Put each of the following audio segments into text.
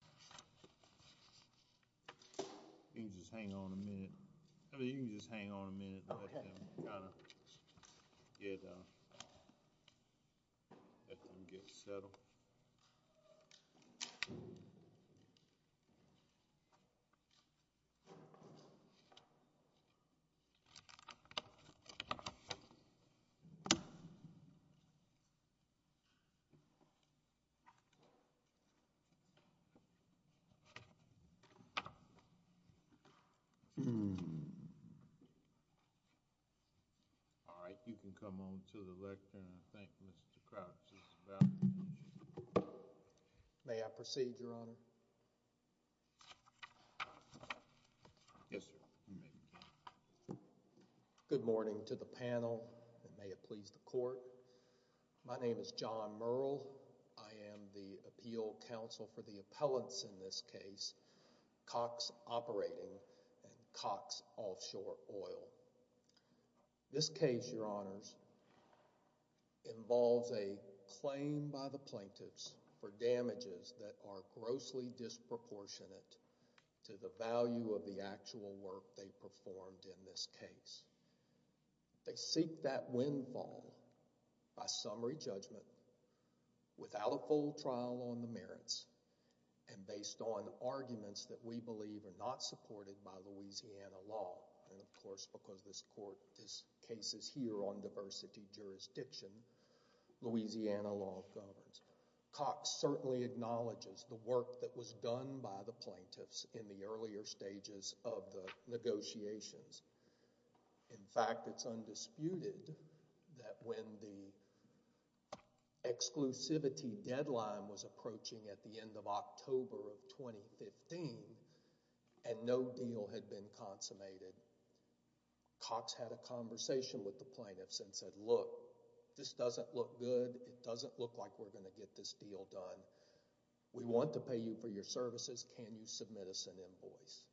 Center. You can just hang on a minute. I mean, you can just hang on a minute. Let them get settled. Okay. All right, you can come on to the lectern. I think Mr. Crouch is about to speak. May I proceed, Your Honor? Yes, sir. You may begin. May it please the Court. Thank you, Your Honor. My name is John Murrell. I am the Appeal Counsel for the appellants in this case, Cox Operating and Cox Offshore Oil. This case, Your Honors, involves a claim by the plaintiffs for damages that are grossly disproportionate to the value of the actual work they performed in this case. They seek that windfall by summary judgment, without a full trial on the merits, and based on arguments that we believe are not supported by Louisiana law, and of course because this case is here on diversity jurisdiction, Louisiana law governs. Cox certainly acknowledges the work that was done by the plaintiffs in the earlier stages of the negotiations. In fact, it's undisputed that when the exclusivity deadline was approaching at the end of October of 2015, and no deal had been consummated, Cox had a conversation with the plaintiffs and said, look, this doesn't look good, it doesn't look like we're going to get this deal done. We want to pay you for your services. Can you submit us an invoice?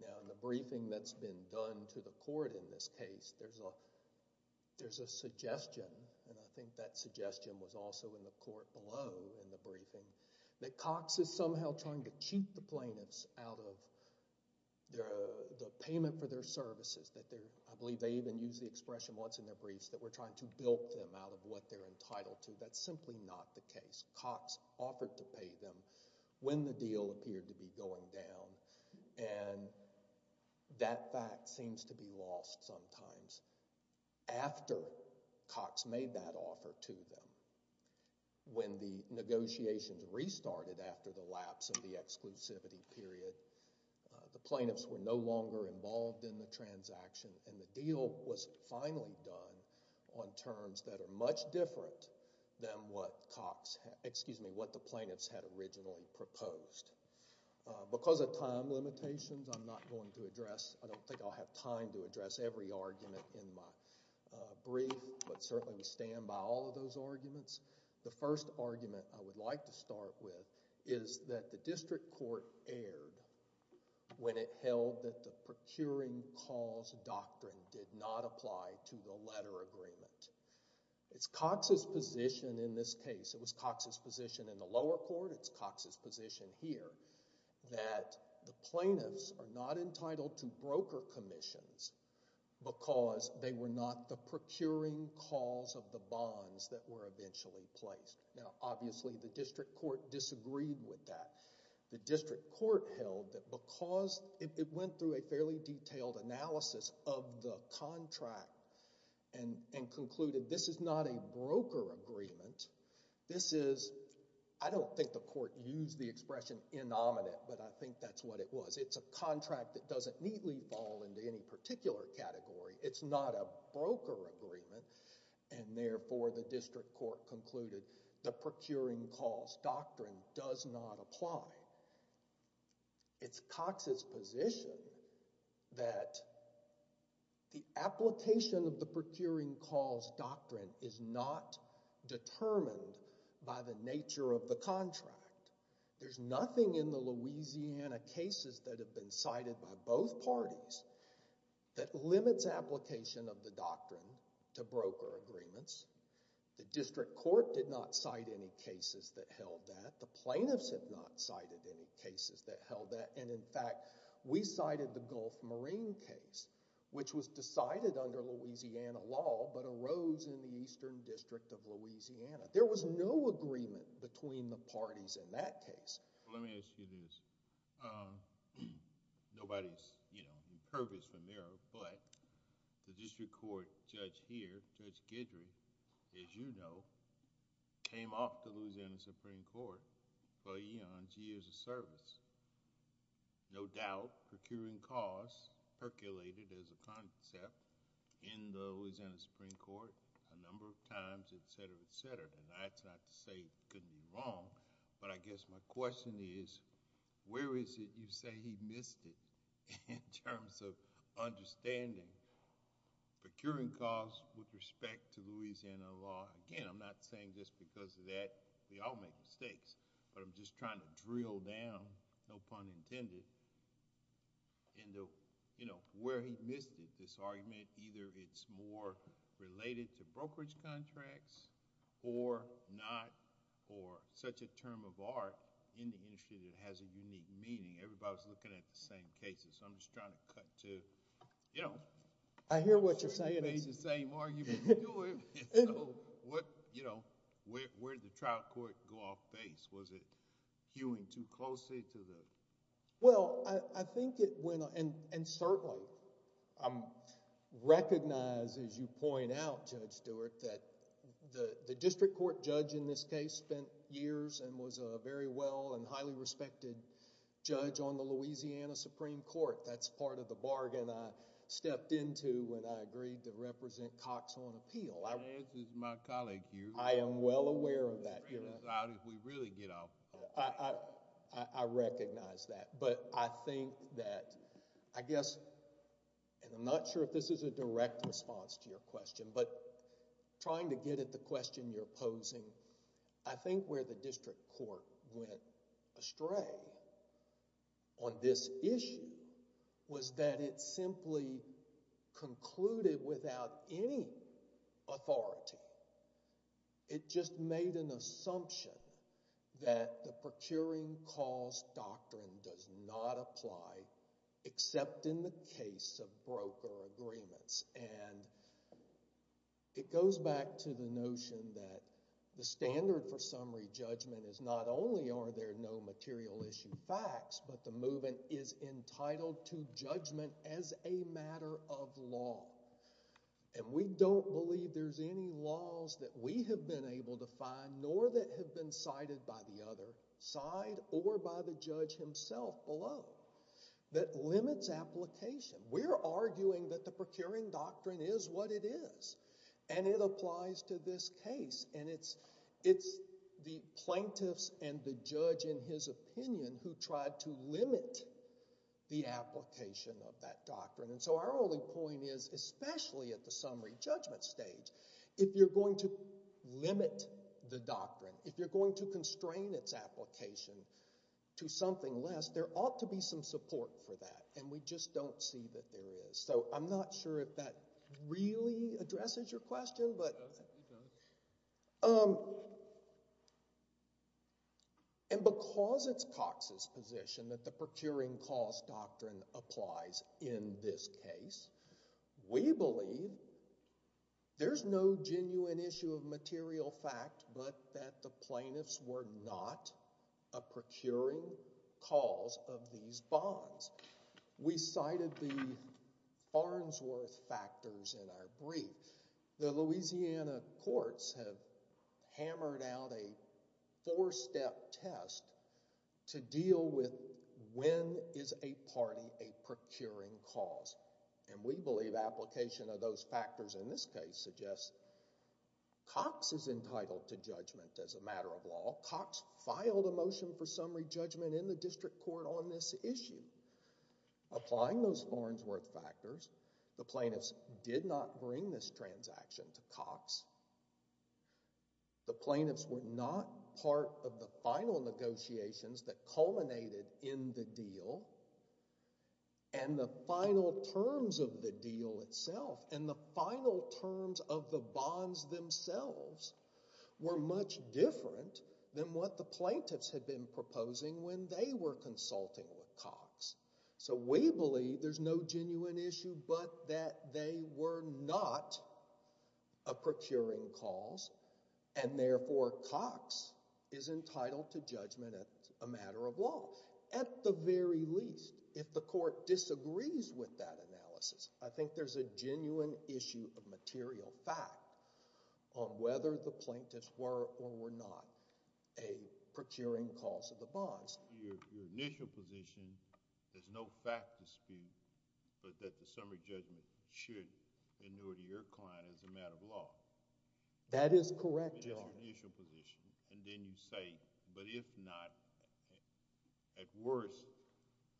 Now, in the briefing that's been done to the court in this case, there's a suggestion, and I think that suggestion was also in the court below in the briefing, that Cox is somehow trying to cheat the plaintiffs out of the payment for their services, that they're, I believe they even used the expression once in their briefs, that we're trying to bilk them out of what they're entitled to. That's simply not the case. Cox offered to pay them when the deal appeared to be going down, and that fact seems to be lost sometimes after Cox made that offer to them. When the negotiations restarted after the lapse of the exclusivity period, the plaintiffs were no longer involved in the transaction, and the deal was finally done on terms that were based on what Cox, excuse me, what the plaintiffs had originally proposed. Because of time limitations, I'm not going to address, I don't think I'll have time to address every argument in my brief, but certainly we stand by all of those arguments. The first argument I would like to start with is that the district court erred when it held that the procuring cause doctrine did not apply to the letter agreement. It's Cox's position in this case, it was Cox's position in the lower court, it's Cox's position here, that the plaintiffs are not entitled to broker commissions because they were not the procuring cause of the bonds that were eventually placed. Now, obviously the district court disagreed with that. The district court held that because it went through a fairly detailed analysis of the agreement, it concluded this is not a broker agreement. This is, I don't think the court used the expression inominate, but I think that's what it was. It's a contract that doesn't neatly fall into any particular category. It's not a broker agreement, and therefore the district court concluded the procuring cause doctrine does not apply. It's Cox's position that the application of the procuring cause doctrine is not determined by the nature of the contract. There's nothing in the Louisiana cases that have been cited by both parties that limits application of the doctrine to broker agreements. The district court did not cite any cases that held that. The plaintiffs have not cited any cases that held that, and in fact, we cited the Gulf Marine case, which was decided under Louisiana law, but arose in the Eastern District of Louisiana. There was no agreement between the parties in that case. Let me ask you this. Nobody's, you know, the curve is from there, but the district court judge here, Judge Guidry, as you know, came off the Louisiana Supreme Court for eons, years of service. No doubt, procuring cause percolated as a concept in the Louisiana Supreme Court a number of times, etc., etc., and that's not to say it couldn't be wrong, but I guess my question is, where is it you say he missed it in terms of understanding procuring cause with respect to Louisiana law? Again, I'm not saying just because of that. We all make mistakes, but I'm just trying to drill down, no pun intended, into, you know, where he missed it, this argument. Either it's more related to brokerage contracts or not, or such a term of art in the industry that has a unique meaning. Everybody's looking at the same cases. I'm just trying to cut to, you know... You do it. You do it. You do it. You do it. You do it. You do it. You do it. You do it. You do it. You do it. Yeah, you do it. Okay. Thank you. Thank you. Where did the trial court go off base? Was it hewing too closely to the... Well, I think it went... and certainly recognized, as you point out, Judge Stewart, that the district court judge in this case spent years and was a very well and highly respected judge on the Louisiana Supreme Court. That's part of the bargain I stepped into when I agreed to represent Cox on appeal. I... As is my colleague here... I am well aware of that, Your Honor..... as a result, if we really get off... I recognize that, but I think that, I guess, and I'm not sure if this is a direct response to your question, but trying to get at the question you're posing, I think where the the standard for summary judgment is not only are there no material issue facts but the movement is entitled to judgment as a matter of law. And we don't believe there's any laws that we have been able to find nor that have been cited by the other side or by the judge himself below that limits application. We're arguing that the procuring doctrine is what it is and it applies to this case and it's... it's the plaintiffs and the judge in his opinion who tried to limit the especially at the summary judgment stage. If you're going to limit the doctrine, if you're going to constrain its application to something less, there ought to be some support for that and we just don't see that there is. So I'm not sure if that really addresses your question, but... No, I think it does. And because it's Cox's position that the procuring cost doctrine applies in this case, we believe there's no genuine issue of material fact but that the plaintiffs were not a procuring cause of these bonds. We cited the Farnsworth factors in our brief. The Louisiana courts have hammered out a four-step test to deal with when is a party a procuring cause. And we believe application of those factors in this case suggests Cox is entitled to judgment as a matter of law. Cox filed a motion for summary judgment in the district court on this issue. Applying those Farnsworth factors, the plaintiffs did not bring this transaction to Cox. The plaintiffs were not part of the final negotiations that culminated in the deal and the final terms of the deal itself and the final terms of the bonds themselves were much different than what the plaintiffs had been proposing when they were consulting with Cox. So we believe there's no genuine issue but that they were not a procuring cause and therefore Cox is entitled to judgment as a matter of law. At the very least, if the court disagrees with that analysis, I think there's a genuine issue of material fact on whether the plaintiffs were or were not a procuring cause of the bonds. Your initial position is no fact dispute but that the summary judgment should in order to your client as a matter of law. That is correct, Your Honor. That's your initial position and then you say, but if not, at worst,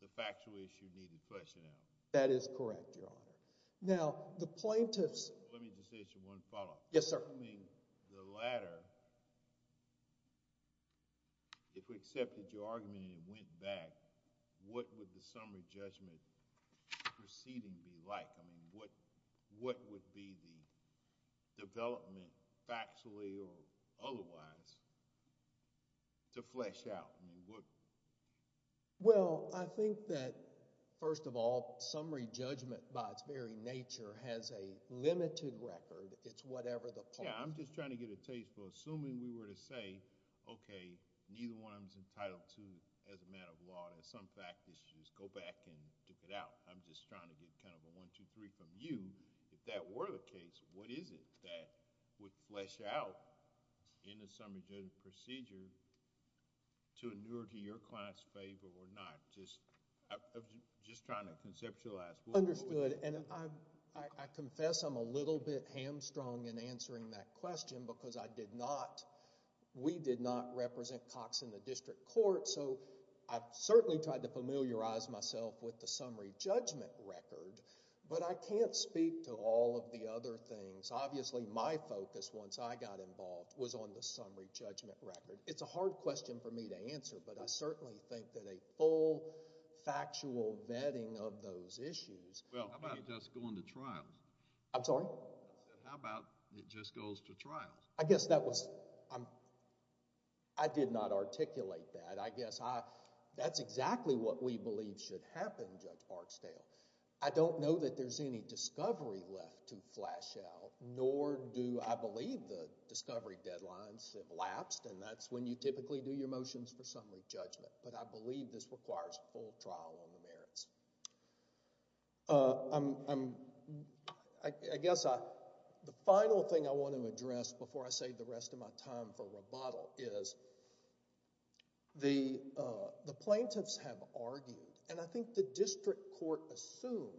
the factual issue needed question out. That is correct, Your Honor. Now, the plaintiffs. Let me just ask you one follow-up. Yes, sir. Assuming the latter, if we accepted your argument and it went back, what would the summary judgment proceeding be like? What would be the development factually or otherwise to flesh out? Well, I think that, first of all, summary judgment by its very nature has a limited record. It's whatever the point. Yeah, I'm just trying to get a taste for assuming we were to say, okay, neither one of them is entitled to as a matter of law. There's some fact that you should just go back and dip it out. I'm just trying to get kind of a one, two, three from you. If that were the case, what is it that would flesh out in the summary judgment procedure to endure to your client's favor or not? Just trying to conceptualize... Understood and I confess I'm a little bit hamstrung in answering that question because I did not... we did not represent Cox in the district court so I've certainly tried to familiarize myself with the summary judgment record but I can't speak to all of the other things. Obviously, my focus once I got involved was on the summary judgment record. It's a hard question for me to answer but I certainly think that a full factual vetting of those issues... Well, how about just going to trials? I'm sorry? How about it just goes to trials? I guess that was... I did not articulate that. That's exactly what we believe should happen, Judge Barksdale. I don't know that there's any discovery left to flesh out nor do I believe the discovery deadlines have lapsed and that's when you typically do your motions for summary judgment but I believe this requires a full trial on the merits. I guess the final thing I want to address before I save the rest of my time for the plaintiffs have argued and I think the district court assumed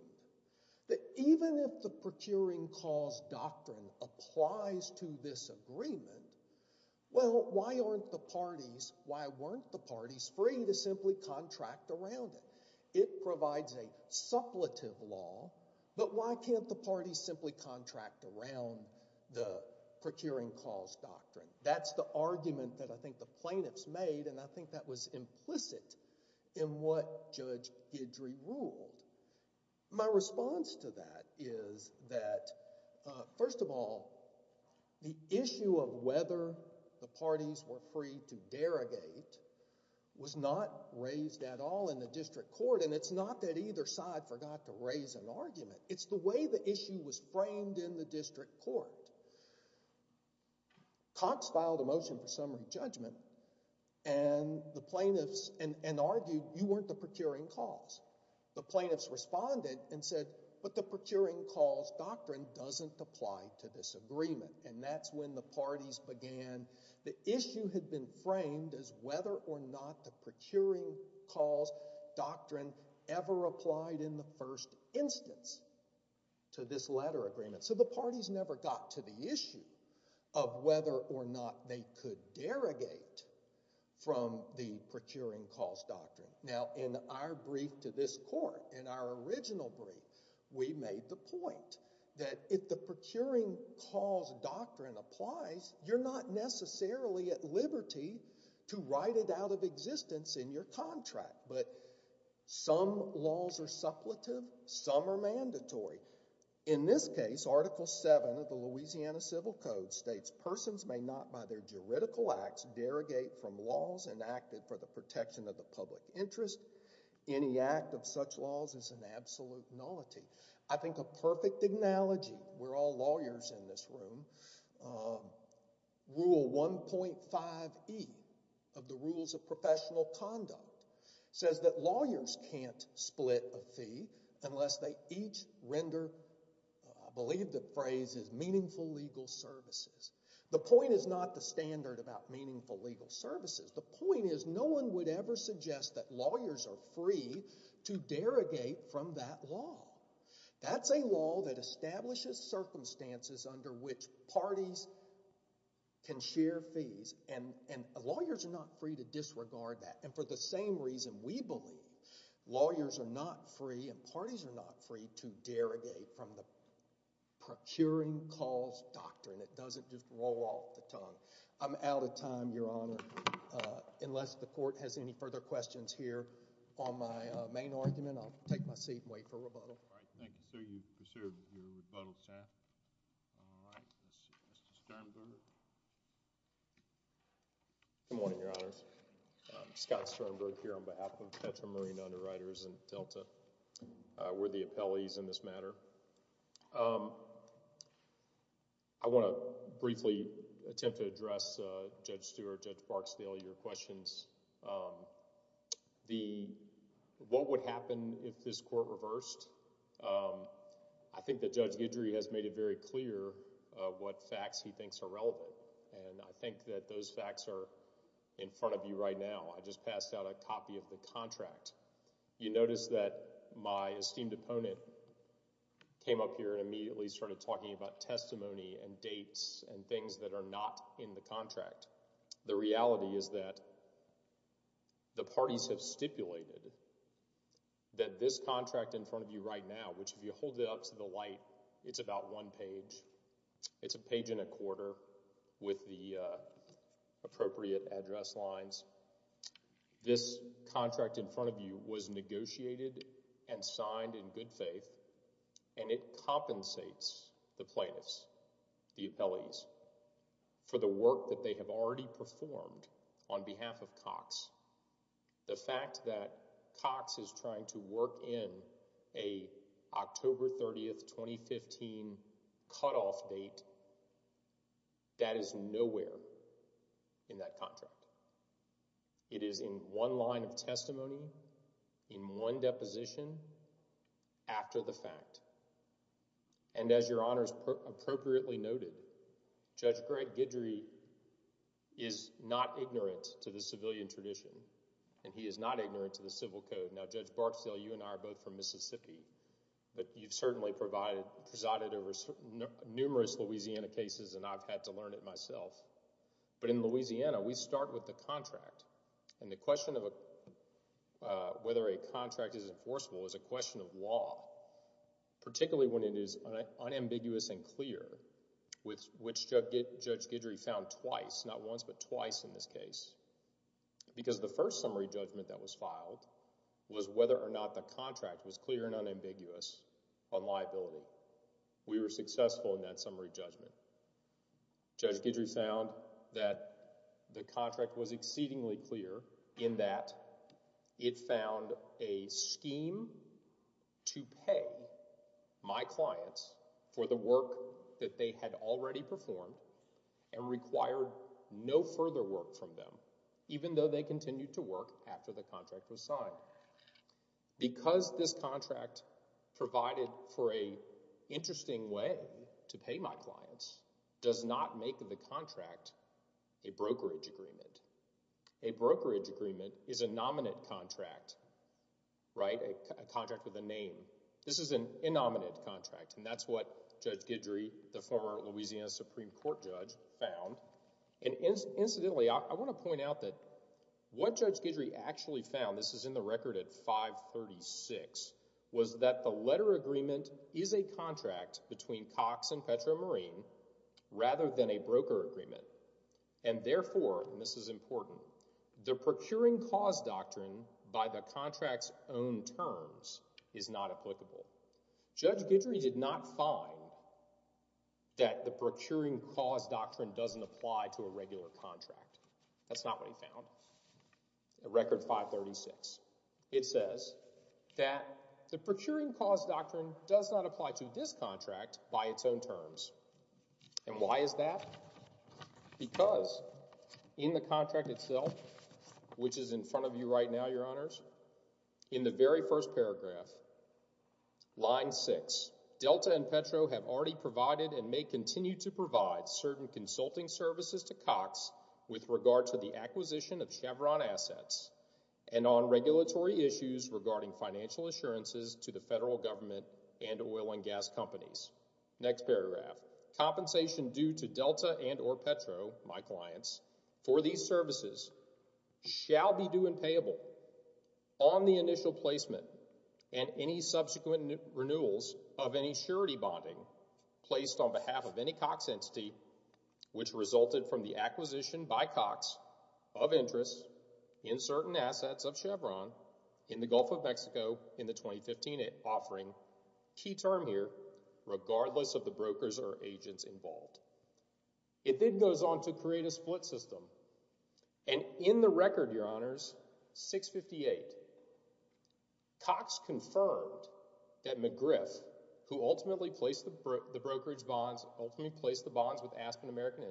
that even if the procuring cause doctrine applies to this agreement, well, why aren't the parties... why weren't the parties free to simply contract around it? It provides a suppletive law but why can't the parties simply contract around the procuring cause doctrine? That's the argument that I think the plaintiffs made and I think that was implicit in what Judge Guidry ruled. My response to that is that, first of all, the issue of whether the parties were free to derogate was not raised at all in the district court and it's not that either side forgot to raise an argument. It's the way the issue was framed in the district court. Cox filed a motion for summary judgment and the plaintiffs... and argued you weren't the procuring cause. The plaintiffs responded and said, but the procuring cause doctrine doesn't apply to this agreement and that's when the parties began. The issue had been framed as whether or not the procuring cause doctrine ever applied in the first instance to this letter agreement. The parties never got to the issue of whether or not they could derogate from the procuring cause doctrine. Now, in our brief to this court, in our original brief, we made the point that if the procuring cause doctrine applies, you're not necessarily at liberty to write it out of existence in your contract but some laws are suppletive, some are mandatory. In this case, Article 7 of the Louisiana Civil Code states, persons may not by their juridical acts derogate from laws enacted for the protection of the public interest. Any act of such laws is an absolute nullity. I think a perfect analogy, we're all lawyers in this room, Rule 1.5E of the Rules of Professional Conduct says that lawyers can't split a fee unless they each render, I believe the phrase is meaningful legal services. The point is not the standard about meaningful legal services. The point is no one would ever suggest that lawyers are free to derogate from that law. That's a law that establishes circumstances under which parties can share fees and lawyers are not free to disregard that and for the same reason we believe, lawyers are not free and parties are not free to derogate from the procuring cause doctrine. It doesn't just roll off the tongue. I'm out of time, Your Honor. Unless the court has any further questions here on my main argument, I'll take my seat and wait for rebuttal. All right. Thank you, sir. You've preserved your rebuttal, Seth. All right. Let's see. Mr. Sternberg. Good morning, Your Honors. I'm Scott Sternberg here on behalf of the Potomac Marine Underwriters and Delta. We're the appellees in this matter. I want to briefly attempt to address Judge Stewart, Judge Barksdale, your questions. The... what would happen if this court reversed? I think that Judge Guidry has made it very clear what facts he thinks are important. You notice that my esteemed opponent came up here and immediately started talking about testimony and dates and things that are not in the contract. The reality is that the parties have stipulated that this contract in front of you right now, which if you hold it up to the light, it's about one page. It's a page and a quarter with the appropriate address lines. This contract in front of you was negotiated and signed in good faith, and it compensates the plaintiffs, the appellees, for the work that they have already performed on behalf of Cox. The fact that Cox is trying to work in a October 30, 2015, cutoff date, that is nowhere in that contract. It is in one line of testimony, in one deposition, after the fact. And as your Honor has appropriately noted, Judge Greg Guidry is not ignorant to the civilian tradition, and he is not ignorant to the civil code. Now, Judge Barksdale, you and I are both from Mississippi, but you've certainly presided over numerous Louisiana cases, and I've had to learn it myself. But in Louisiana, we start with the contract, and the question of whether a contract is enforceable is a question of law, particularly when it is unambiguous and clear, which Judge Guidry found twice, not once, but twice in this case, because the first summary judgment that was filed was whether or not the contract was clear and unambiguous on liability. We were successful in that summary judgment. Judge Guidry found that the contract was exceedingly clear in that it found a scheme to pay my clients for the work that they had already performed and required no further work from them, even though they continued to work after the contract was signed. Because this contract provided for an interesting way to pay my clients, does not make the contract a brokerage agreement. A brokerage agreement is a nominant contract, right? A contract with a name. This is an innominate contract, and that's what Judge Guidry, the former Louisiana Supreme Court judge, found. And incidentally, I want to point out that what Judge Guidry actually found, this is in the record at 536, was that the letter agreement is a contract between Cox and Petro Marine rather than a broker agreement. And therefore, and this is important, the procuring cause doctrine by the contract's own terms is not applicable. Judge Guidry did not find that the procuring cause doctrine doesn't apply to a regular contract. That's not what he found. At record 536, it says that the procuring cause doctrine does not apply to this contract by its own terms. And why is that? Because in the contract itself, which is in front of you right now, your honors, in the very first paragraph, line six, Delta and Petro have already provided and may continue to provide certain consulting services to Cox with regard to the acquisition of Chevron assets and on regulatory issues regarding financial assurances to the federal government and oil and gas companies. Next paragraph, compensation due to Delta and or Petro, my clients, for these services shall be due and payable on the initial placement and any subsequent renewals of any surety bonding placed on behalf of any Cox entity which resulted from the acquisition by Cox of interest in certain assets of Gulf of Mexico in the 2015 offering, key term here, regardless of the brokers or agents involved. It then goes on to create a split system. And in the record, your honors, 658, Cox confirmed that McGriff, who ultimately placed the brokerage bonds, ultimately placed the bonds with Aspen American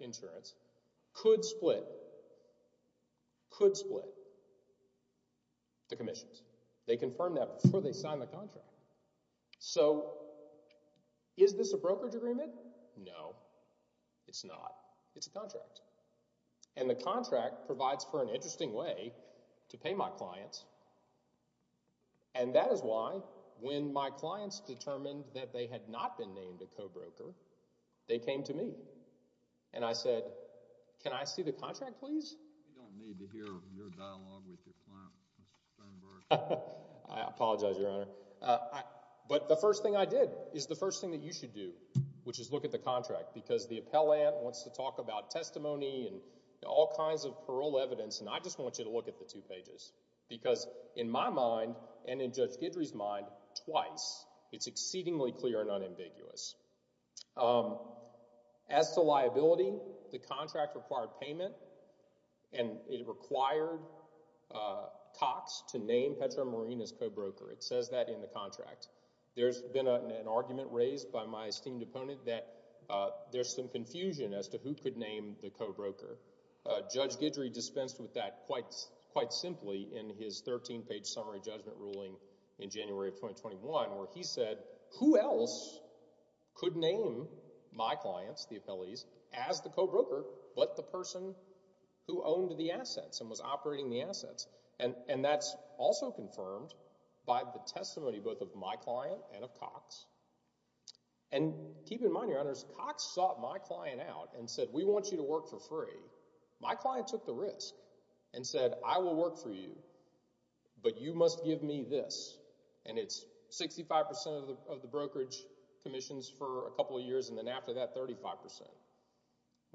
Insurance, could split, could split the commissions. They confirmed that before they signed the contract. So is this a brokerage agreement? No, it's not. It's a contract. And the contract provides for an interesting way to pay my clients. And that is why when my clients determined that they had not been named a and I said, can I see the contract, please? You don't need to hear your dialogue with your client, Mr. Sternberg. I apologize, your honor. But the first thing I did is the first thing that you should do, which is look at the contract, because the appellant wants to talk about testimony and all kinds of parole evidence. And I just want you to look at the two pages, because in my mind and in Judge Guidry's mind twice, it's exceedingly clear and unambiguous. As to liability, the contract required payment and it required Cox to name Petra Marina's co-broker. It says that in the contract. There's been an argument raised by my esteemed opponent that there's some confusion as to who could name the co-broker. Judge Guidry dispensed with that quite, quite simply in his 13-page summary judgment ruling in January of 2021, where he said, who else could name my clients, the appellees, as the co-broker but the person who owned the assets and was operating the assets? And that's also confirmed by the testimony both of my client and of Cox. And keep in mind, your honors, Cox sought my client out and said, we want you to work for free. My client took the risk and said, I will work for you, but you must give me this. And it's 65 percent of the brokerage commissions for a couple of years, and then after that, 35 percent.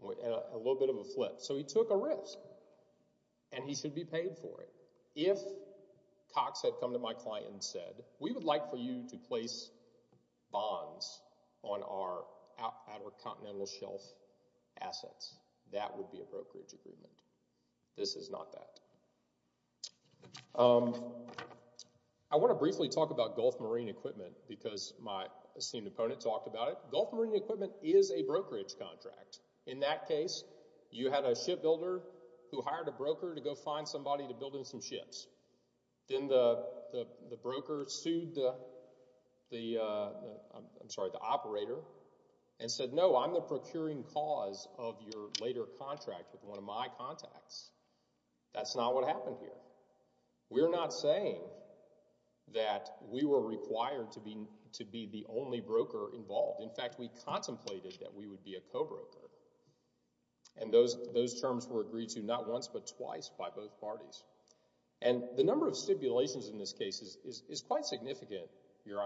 A little bit of a flip. So he took a risk, and he should be paid for it. If Cox had come to my client and said, we would like for you to place bonds on our Continental Shelf assets. That would be a brokerage agreement. This is not that. I want to briefly talk about Gulf Marine Equipment because my esteemed opponent talked about it. Gulf Marine Equipment is a brokerage contract. In that case, you had a shipbuilder who hired a broker to go find somebody to build him some ships. Then the broker sued the operator and said, no, I'm the procuring cause of your later contract with one of my contacts. That's not what happened here. We're not saying that we were required to be the only broker involved. In fact, we contemplated that we would be a co-broker. And those terms were agreed to not once but twice by both parties. And the number of stipulations in this case is quite significant, Your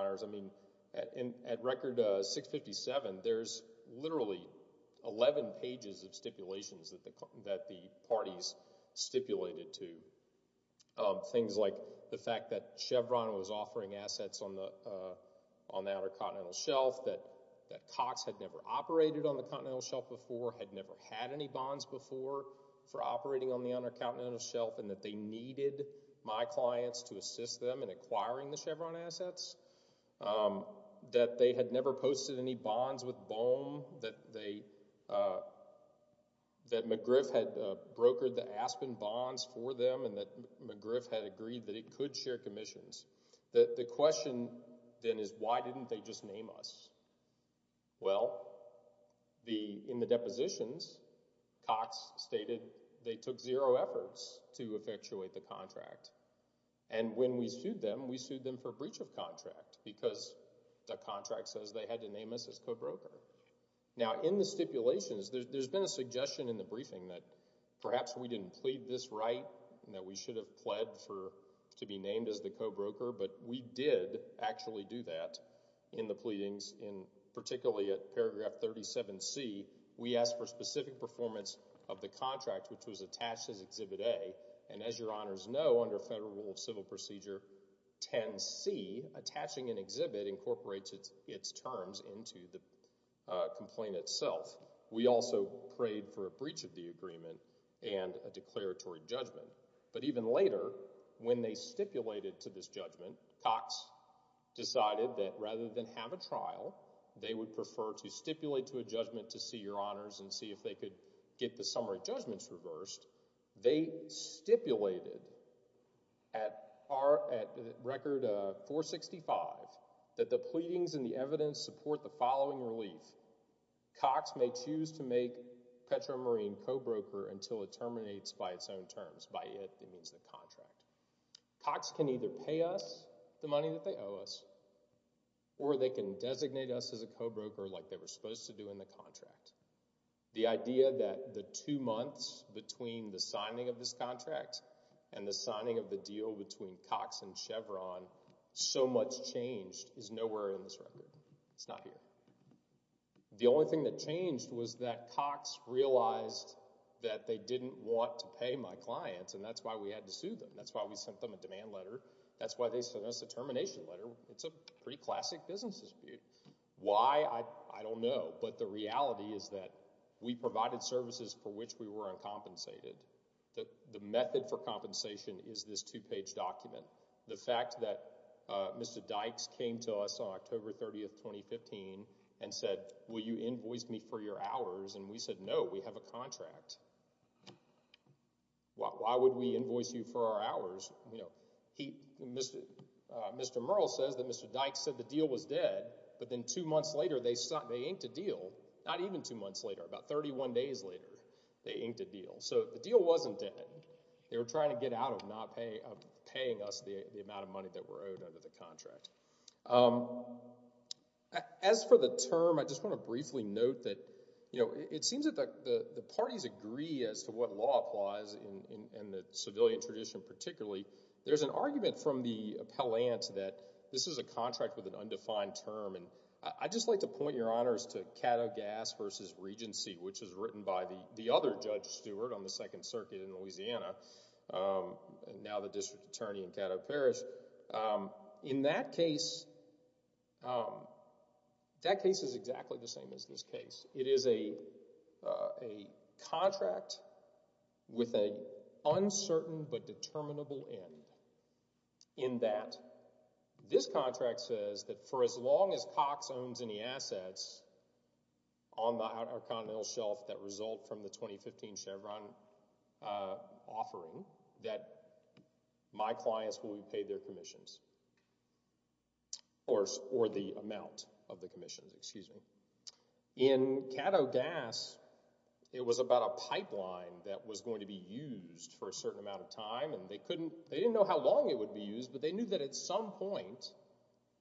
11 pages of stipulations that the parties stipulated to. Things like the fact that Chevron was offering assets on the Outer Continental Shelf, that Cox had never operated on the Continental Shelf before, had never had any bonds before for operating on the Outer Continental Shelf, and that they needed my clients to assist them in acquiring the Chevron assets. That they had never posted any bonds with Bohm, that McGriff had brokered the Aspen bonds for them, and that McGriff had agreed that it could share commissions. The question, then, is why didn't they just name us? Well, in the depositions, Cox stated they took zero efforts to effectuate the contract. And when we sued them, we sued them for breach of contract because the contract says they had to name us as co-broker. Now, in the stipulations, there's been a suggestion in the briefing that perhaps we didn't plead this right, that we should have pled to be named as the co-broker, but we did actually do that in the pleadings, particularly at paragraph 37C. We asked for specific performance of the contract, which was attached as Federal Rule of Civil Procedure 10C. Attaching an exhibit incorporates its terms into the complaint itself. We also prayed for a breach of the agreement and a declaratory judgment. But even later, when they stipulated to this judgment, Cox decided that rather than have a trial, they would prefer to stipulate to a judgment to see your honors and see if they could get the summary judgments reversed. They stipulated at Record 465 that the pleadings and the evidence support the following relief. Cox may choose to make Petro Marine co-broker until it terminates by its own terms. By it, it means the contract. Cox can either pay us the money that they owe us, or they can designate us as a co-broker like they were supposed to do in the contract. The idea that the two months between the signing of this contract and the signing of the deal between Cox and Chevron, so much changed is nowhere in this record. It's not here. The only thing that changed was that Cox realized that they didn't want to pay my clients, and that's why we had to sue them. That's why we sent them a demand letter. That's why they sent us a termination letter. It's a pretty classic business dispute. Why? I don't know. But the reality is that we provided services for which we were uncompensated. The method for compensation is this two-page document. The fact that Mr. Dykes came to us on October 30, 2015, and said, will you invoice me for your hours? And we said, no, we have a contract. Why would we invoice you for our hours? Mr. Murrell says that Mr. Dykes said the deal was dead, but then two months later, they inked a deal, not even two months later, about 31 days later, they inked a deal. So the deal wasn't dead. They were trying to get out of not paying us the amount of money that we're owed under the contract. As for the term, I just want to briefly note that it seems that the parties agree as to what law applies in the civilian tradition particularly. There's an argument from the appellant that this is a contract with an uncertain but determinable end in that this contract says that for as long as assets on our continental shelf that result from the 2015 Chevron offering, that my clients will be paid their commissions, or the amount of the commissions, excuse me. In Caddo Gas, it was about a pipeline that was going to be used for a certain amount of time, and they didn't know how long it would be used, but they knew that at some point,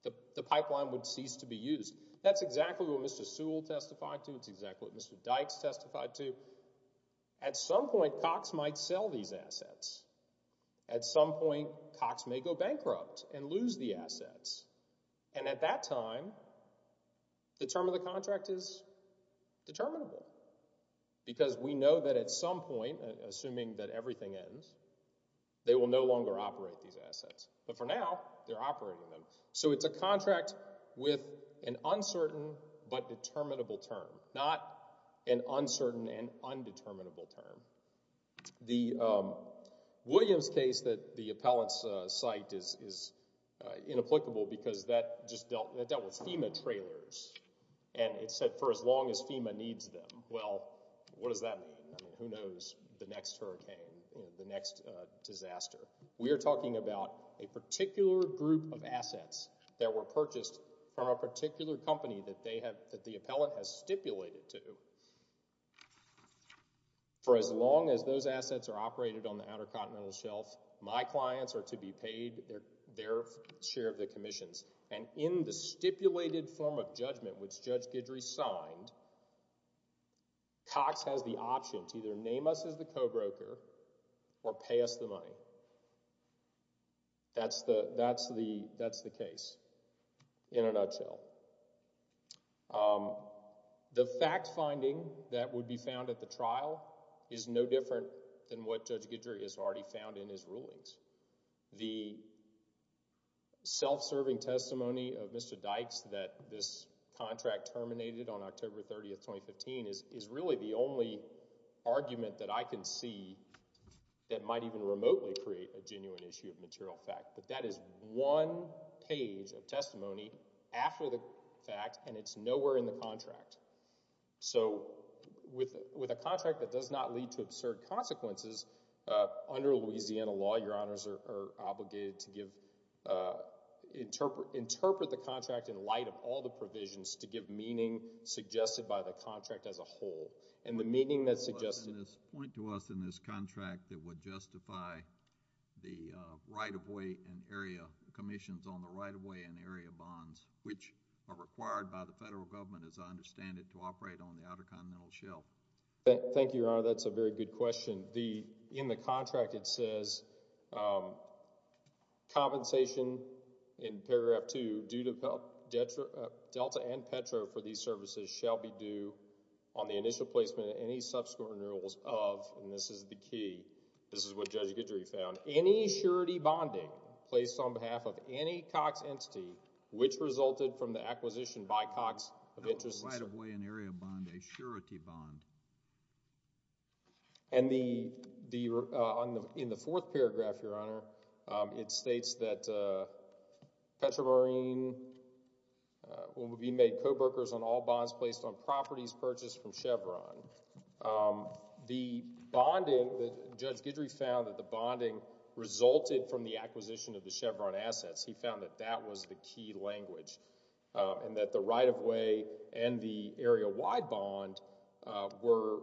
the pipeline would cease to be used. That's exactly what Mr. Sewell testified to. It's exactly what Mr. Dykes testified to. At some point, Cox might sell these assets. At some point, Cox may go bankrupt and lose the assets. And at that time, the term of the contract is determinable because we know that at some point, assuming that everything ends, they will no longer operate these assets. But for now, they're operating them. So it's a contract with an uncertain but determinable term, not an uncertain and undeterminable term. The Williams case that the appellants cite is inapplicable because that just dealt with FEMA trailers, and it said for as long as FEMA needs them. Well, what does that mean? Who knows the next hurricane, the next disaster? We are talking about a particular group of assets that were purchased from a particular company that the appellant has stipulated to. For as long as those assets are operated on the Outer Continental Shelf, my clients are to be paid their share of the commissions. And in the stipulated form of judgment, which Judge Guidry signed, Cox has the option to either name us as the co-broker or pay us the money. So that's the case in a nutshell. The fact-finding that would be found at the trial is no different than what Judge Guidry has already found in his rulings. The self-serving testimony of Mr. Dykes that this contract terminated on October 30th, 2015 is really the only argument that I can see that might even remotely create a genuine issue of material fact. But that is one page of testimony after the fact, and it's nowhere in the contract. So with a contract that does not lead to absurd consequences, under Louisiana law, your honors are obligated to give, interpret the contract in light of all the provisions to give meaning suggested by the contract as a whole. And the meaning that's suggested— —point to us in this contract that would justify the right-of-way and area commissions on the right-of-way and area bonds, which are required by the federal government, as I understand it, to operate on the Outer Continental Shelf. Thank you, your honor. That's a very good question. In the contract, it says, compensation in paragraph two due to Delta and Petro for these services shall be due on the initial placement of any subsequent renewals of— and this is the key, this is what Judge Guidry found— any surety bonding placed on behalf of any Cox entity which resulted from the acquisition by Cox of interests— Right-of-way and area bond, a surety bond. And in the fourth paragraph, your honor, it states that Petro Marine will be made co-brokers on all bonds placed on properties purchased from Chevron. The bonding that Judge Guidry found that the bonding resulted from the acquisition of the Chevron assets, he found that that was the key language. And that the right-of-way and the area-wide bond were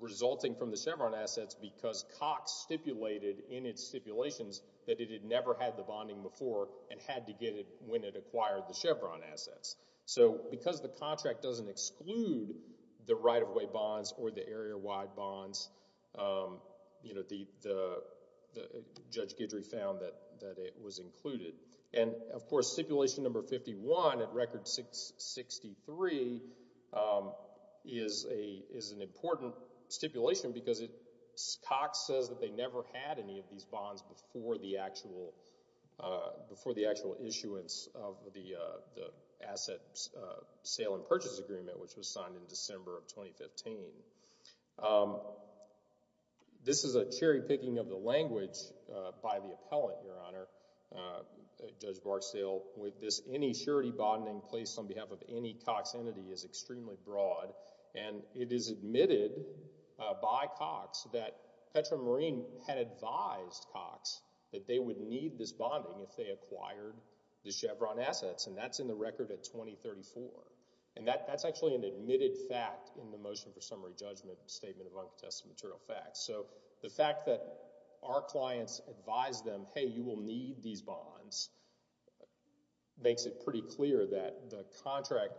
resulting from the Chevron assets because Cox stipulated in its stipulations that it had never had the bonding before and had to get it when it acquired the Chevron assets. So because the contract doesn't exclude the right-of-way bonds or the area-wide bonds, you know, Judge Guidry found that it was included. And of course, stipulation number 51 at record 63 is an important stipulation because Cox says that they never had any of these bonds before the actual issuance of the Asset Sale and Purchase Agreement which was signed in December of 2015. This is a cherry-picking of the language by the appellant, your honor, Judge Barksdale, with this any surety bonding placed on behalf of any Cox entity is extremely broad and it is admitted by Cox that Petra Marine had advised Cox that they would need this bonding if they acquired the Chevron assets and that's in the record at 2034. And that's actually an admitted fact in the Motion for Summary Judgment Statement of Uncontested Material Facts. So the fact that our clients advise them, hey, you will need these bonds, makes it pretty clear that the contract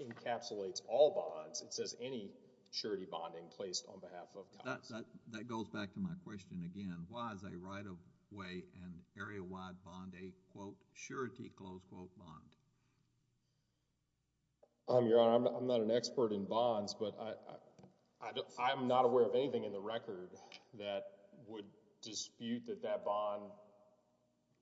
encapsulates all bonds. It says any surety bonding placed on behalf of Cox. That goes back to my question again. Why is a right-of-way and area-wide bond a, quote, surety, close quote bond? Um, your honor, I'm not an expert in bonds, but I'm not aware of anything in the record that would dispute that that bond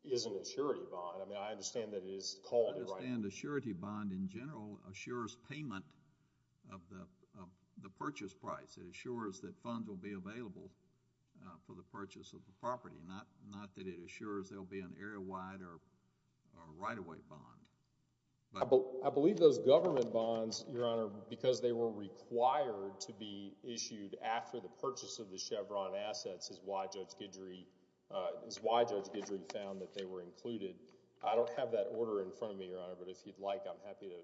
is an surety bond. I mean, I understand that it is called a right-of-way. I understand a surety bond in general assures payment of the purchase price. It assures that funds will be available for the purchase of the property, not that it assures there'll be an area-wide or a right-of-way bond. I believe those government bonds, your honor, because they were required to be issued after the purchase of the Chevron assets is why Judge Guidry found that they were included. I don't have that order in front of me, your honor, but if you'd like, I'm happy to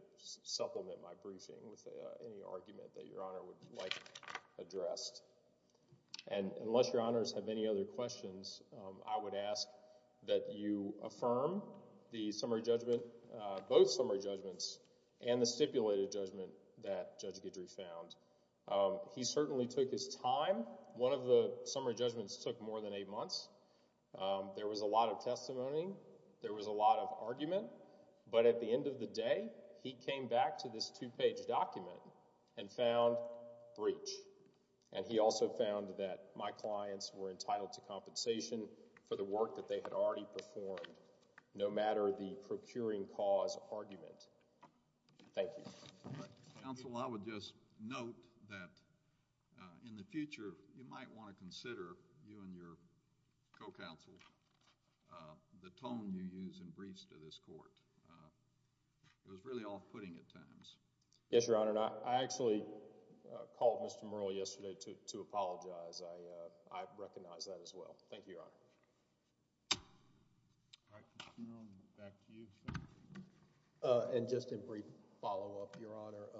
supplement my briefing with any argument that your honor would like addressed. And unless your honors have any other questions, I would ask that you affirm the summary judgment, both summary judgments and the stipulated judgment that Judge Guidry found. He certainly took his time. One of the summary judgments took more than eight months. There was a lot of testimony. There was a lot of argument. But at the end of the day, he came back to this two-page document and found breach. And he also found that my clients were entitled to compensation for the work that they had already performed, no matter the procuring cause argument. Thank you. Counsel, I would just note that in the future, you might want to consider, you and your co-counsel, the tone you use in briefs to this court. It was really off-putting at times. Yes, your honor. I actually called Mr. Murrell yesterday to apologize. I recognize that as well. Thank you, your honor. All right, back to you, sir. And just in brief follow-up, your honor,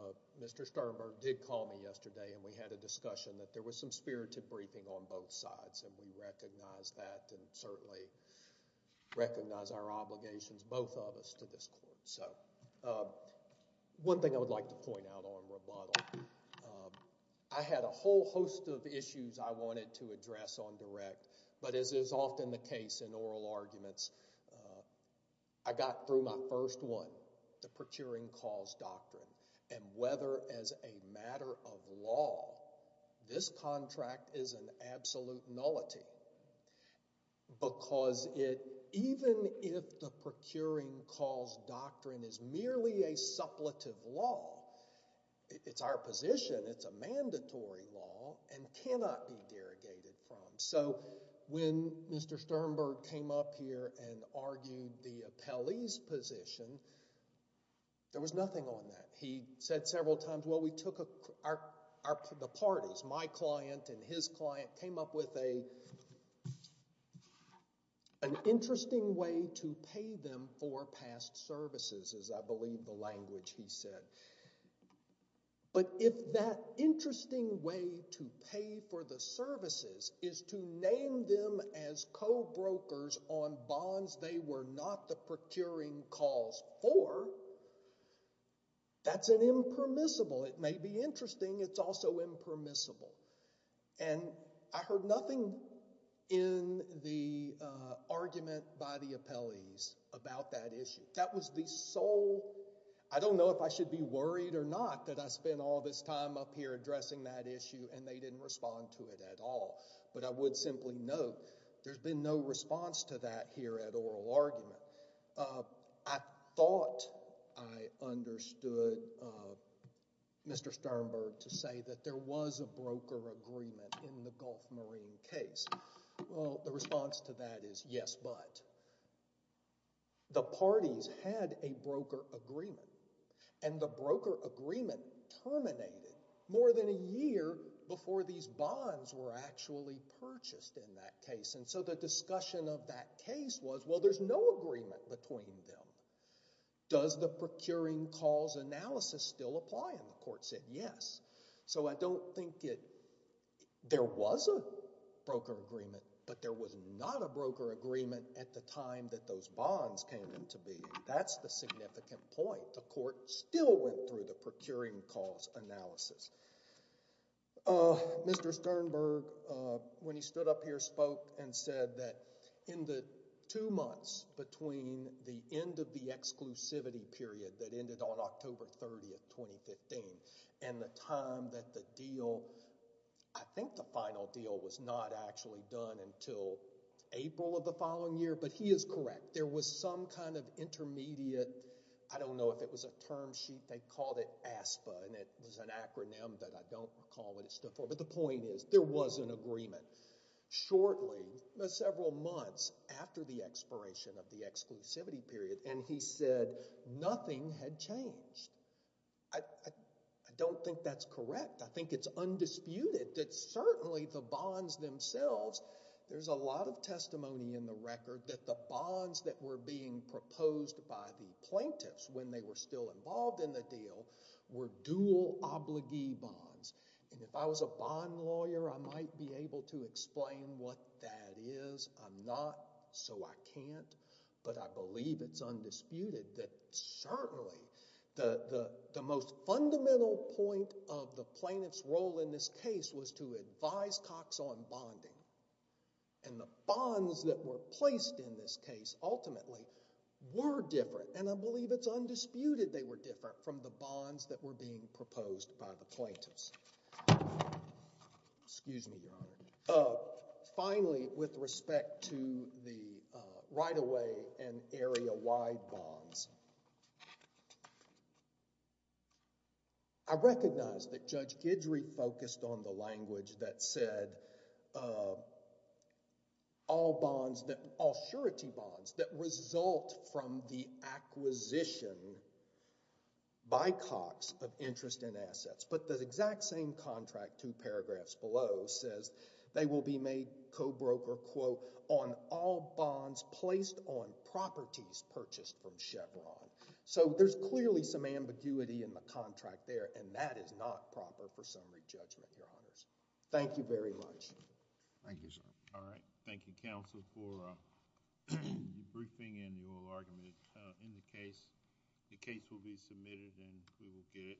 Mr. Sternberg did call me yesterday, and we had a discussion that there was some spirited briefing on both sides. And we recognize that and certainly recognize our obligations, both of us, to this court. So one thing I would like to point out on rebuttal, I had a whole host of issues I wanted to address on direct. But as is often the case in oral arguments, I got through my first one, the procuring cause doctrine. And whether as a matter of law, this contract is an absolute nullity. Because even if the procuring cause doctrine is merely a suppletive law, it's our position, it's a mandatory law and cannot be derogated from. So when Mr. Sternberg came up here and argued the appellee's position, there was nothing on that. He said several times, well, we took the parties, my client and his client, came up with an interesting way to pay them for past services, as I believe the language he said. But if that interesting way to pay for the services is to name them as co-brokers on bonds they were not the procuring cause for, that's an impermissible. It may be interesting, it's also impermissible. And I heard nothing in the argument by the appellees about that issue. That was the sole, I don't know if I should be worried or not, that I spent all this time up here addressing that issue, and they didn't respond to it at all. But I would simply note, there's been no response to that here at oral argument. I thought I understood Mr. Sternberg to say that there was a broker agreement in the Gulf Marine case. Well, the response to that is yes, but. The parties had a broker agreement, and the broker agreement terminated more than a year before these bonds were actually purchased in that case. And so the discussion of that case was, well, there's no agreement between them. Does the procuring cause analysis still apply? And the court said yes. So I don't think there was a broker agreement, but there was not a broker agreement at the time that those bonds came into being. That's the significant point. The court still went through the procuring cause analysis. Mr. Sternberg, when he stood up here, spoke and said that in the two months between the end of the exclusivity period that ended on October 30th, 2015, and the time that the deal, I think the final deal, was not actually done until April of the following year. But he is correct. There was some kind of intermediate, I don't know if it was a term sheet, they called it ASPA, and it was an acronym that I don't recall what it stood for. But the point is, there was an agreement. Shortly, several months after the expiration of the exclusivity period, and he said nothing had changed. I don't think that's correct. I think it's undisputed that certainly the bonds themselves, there's a lot of testimony in the record that the bonds that were being proposed by the plaintiffs when they were still involved in the deal were dual obligee bonds. And if I was a bond lawyer, I might be able to explain what that is. I'm not, so I can't. But I believe it's undisputed that certainly the most fundamental point of the plaintiff's role in this case was to advise Cox on bonding. And the bonds that were placed in this case, ultimately, were different. And I believe it's undisputed they were different from the bonds that were being proposed by the plaintiffs. Excuse me, Your Honor. Finally, with respect to the right-of-way and area-wide bonds, I recognize that Judge Guidry focused on the language that said all bonds that, all surety bonds that result from the acquisition by Cox of interest and assets. But the exact same contract, two paragraphs below, says they will be made co-broker, quote, on all bonds placed on properties purchased from Chevron. So there's clearly some ambiguity in the contract there. And that is not proper for summary judgment, Your Honors. Thank you very much. Thank you, sir. All right. Thank you, counsel, for the briefing and your argument in the case. The case will be submitted and we will get it.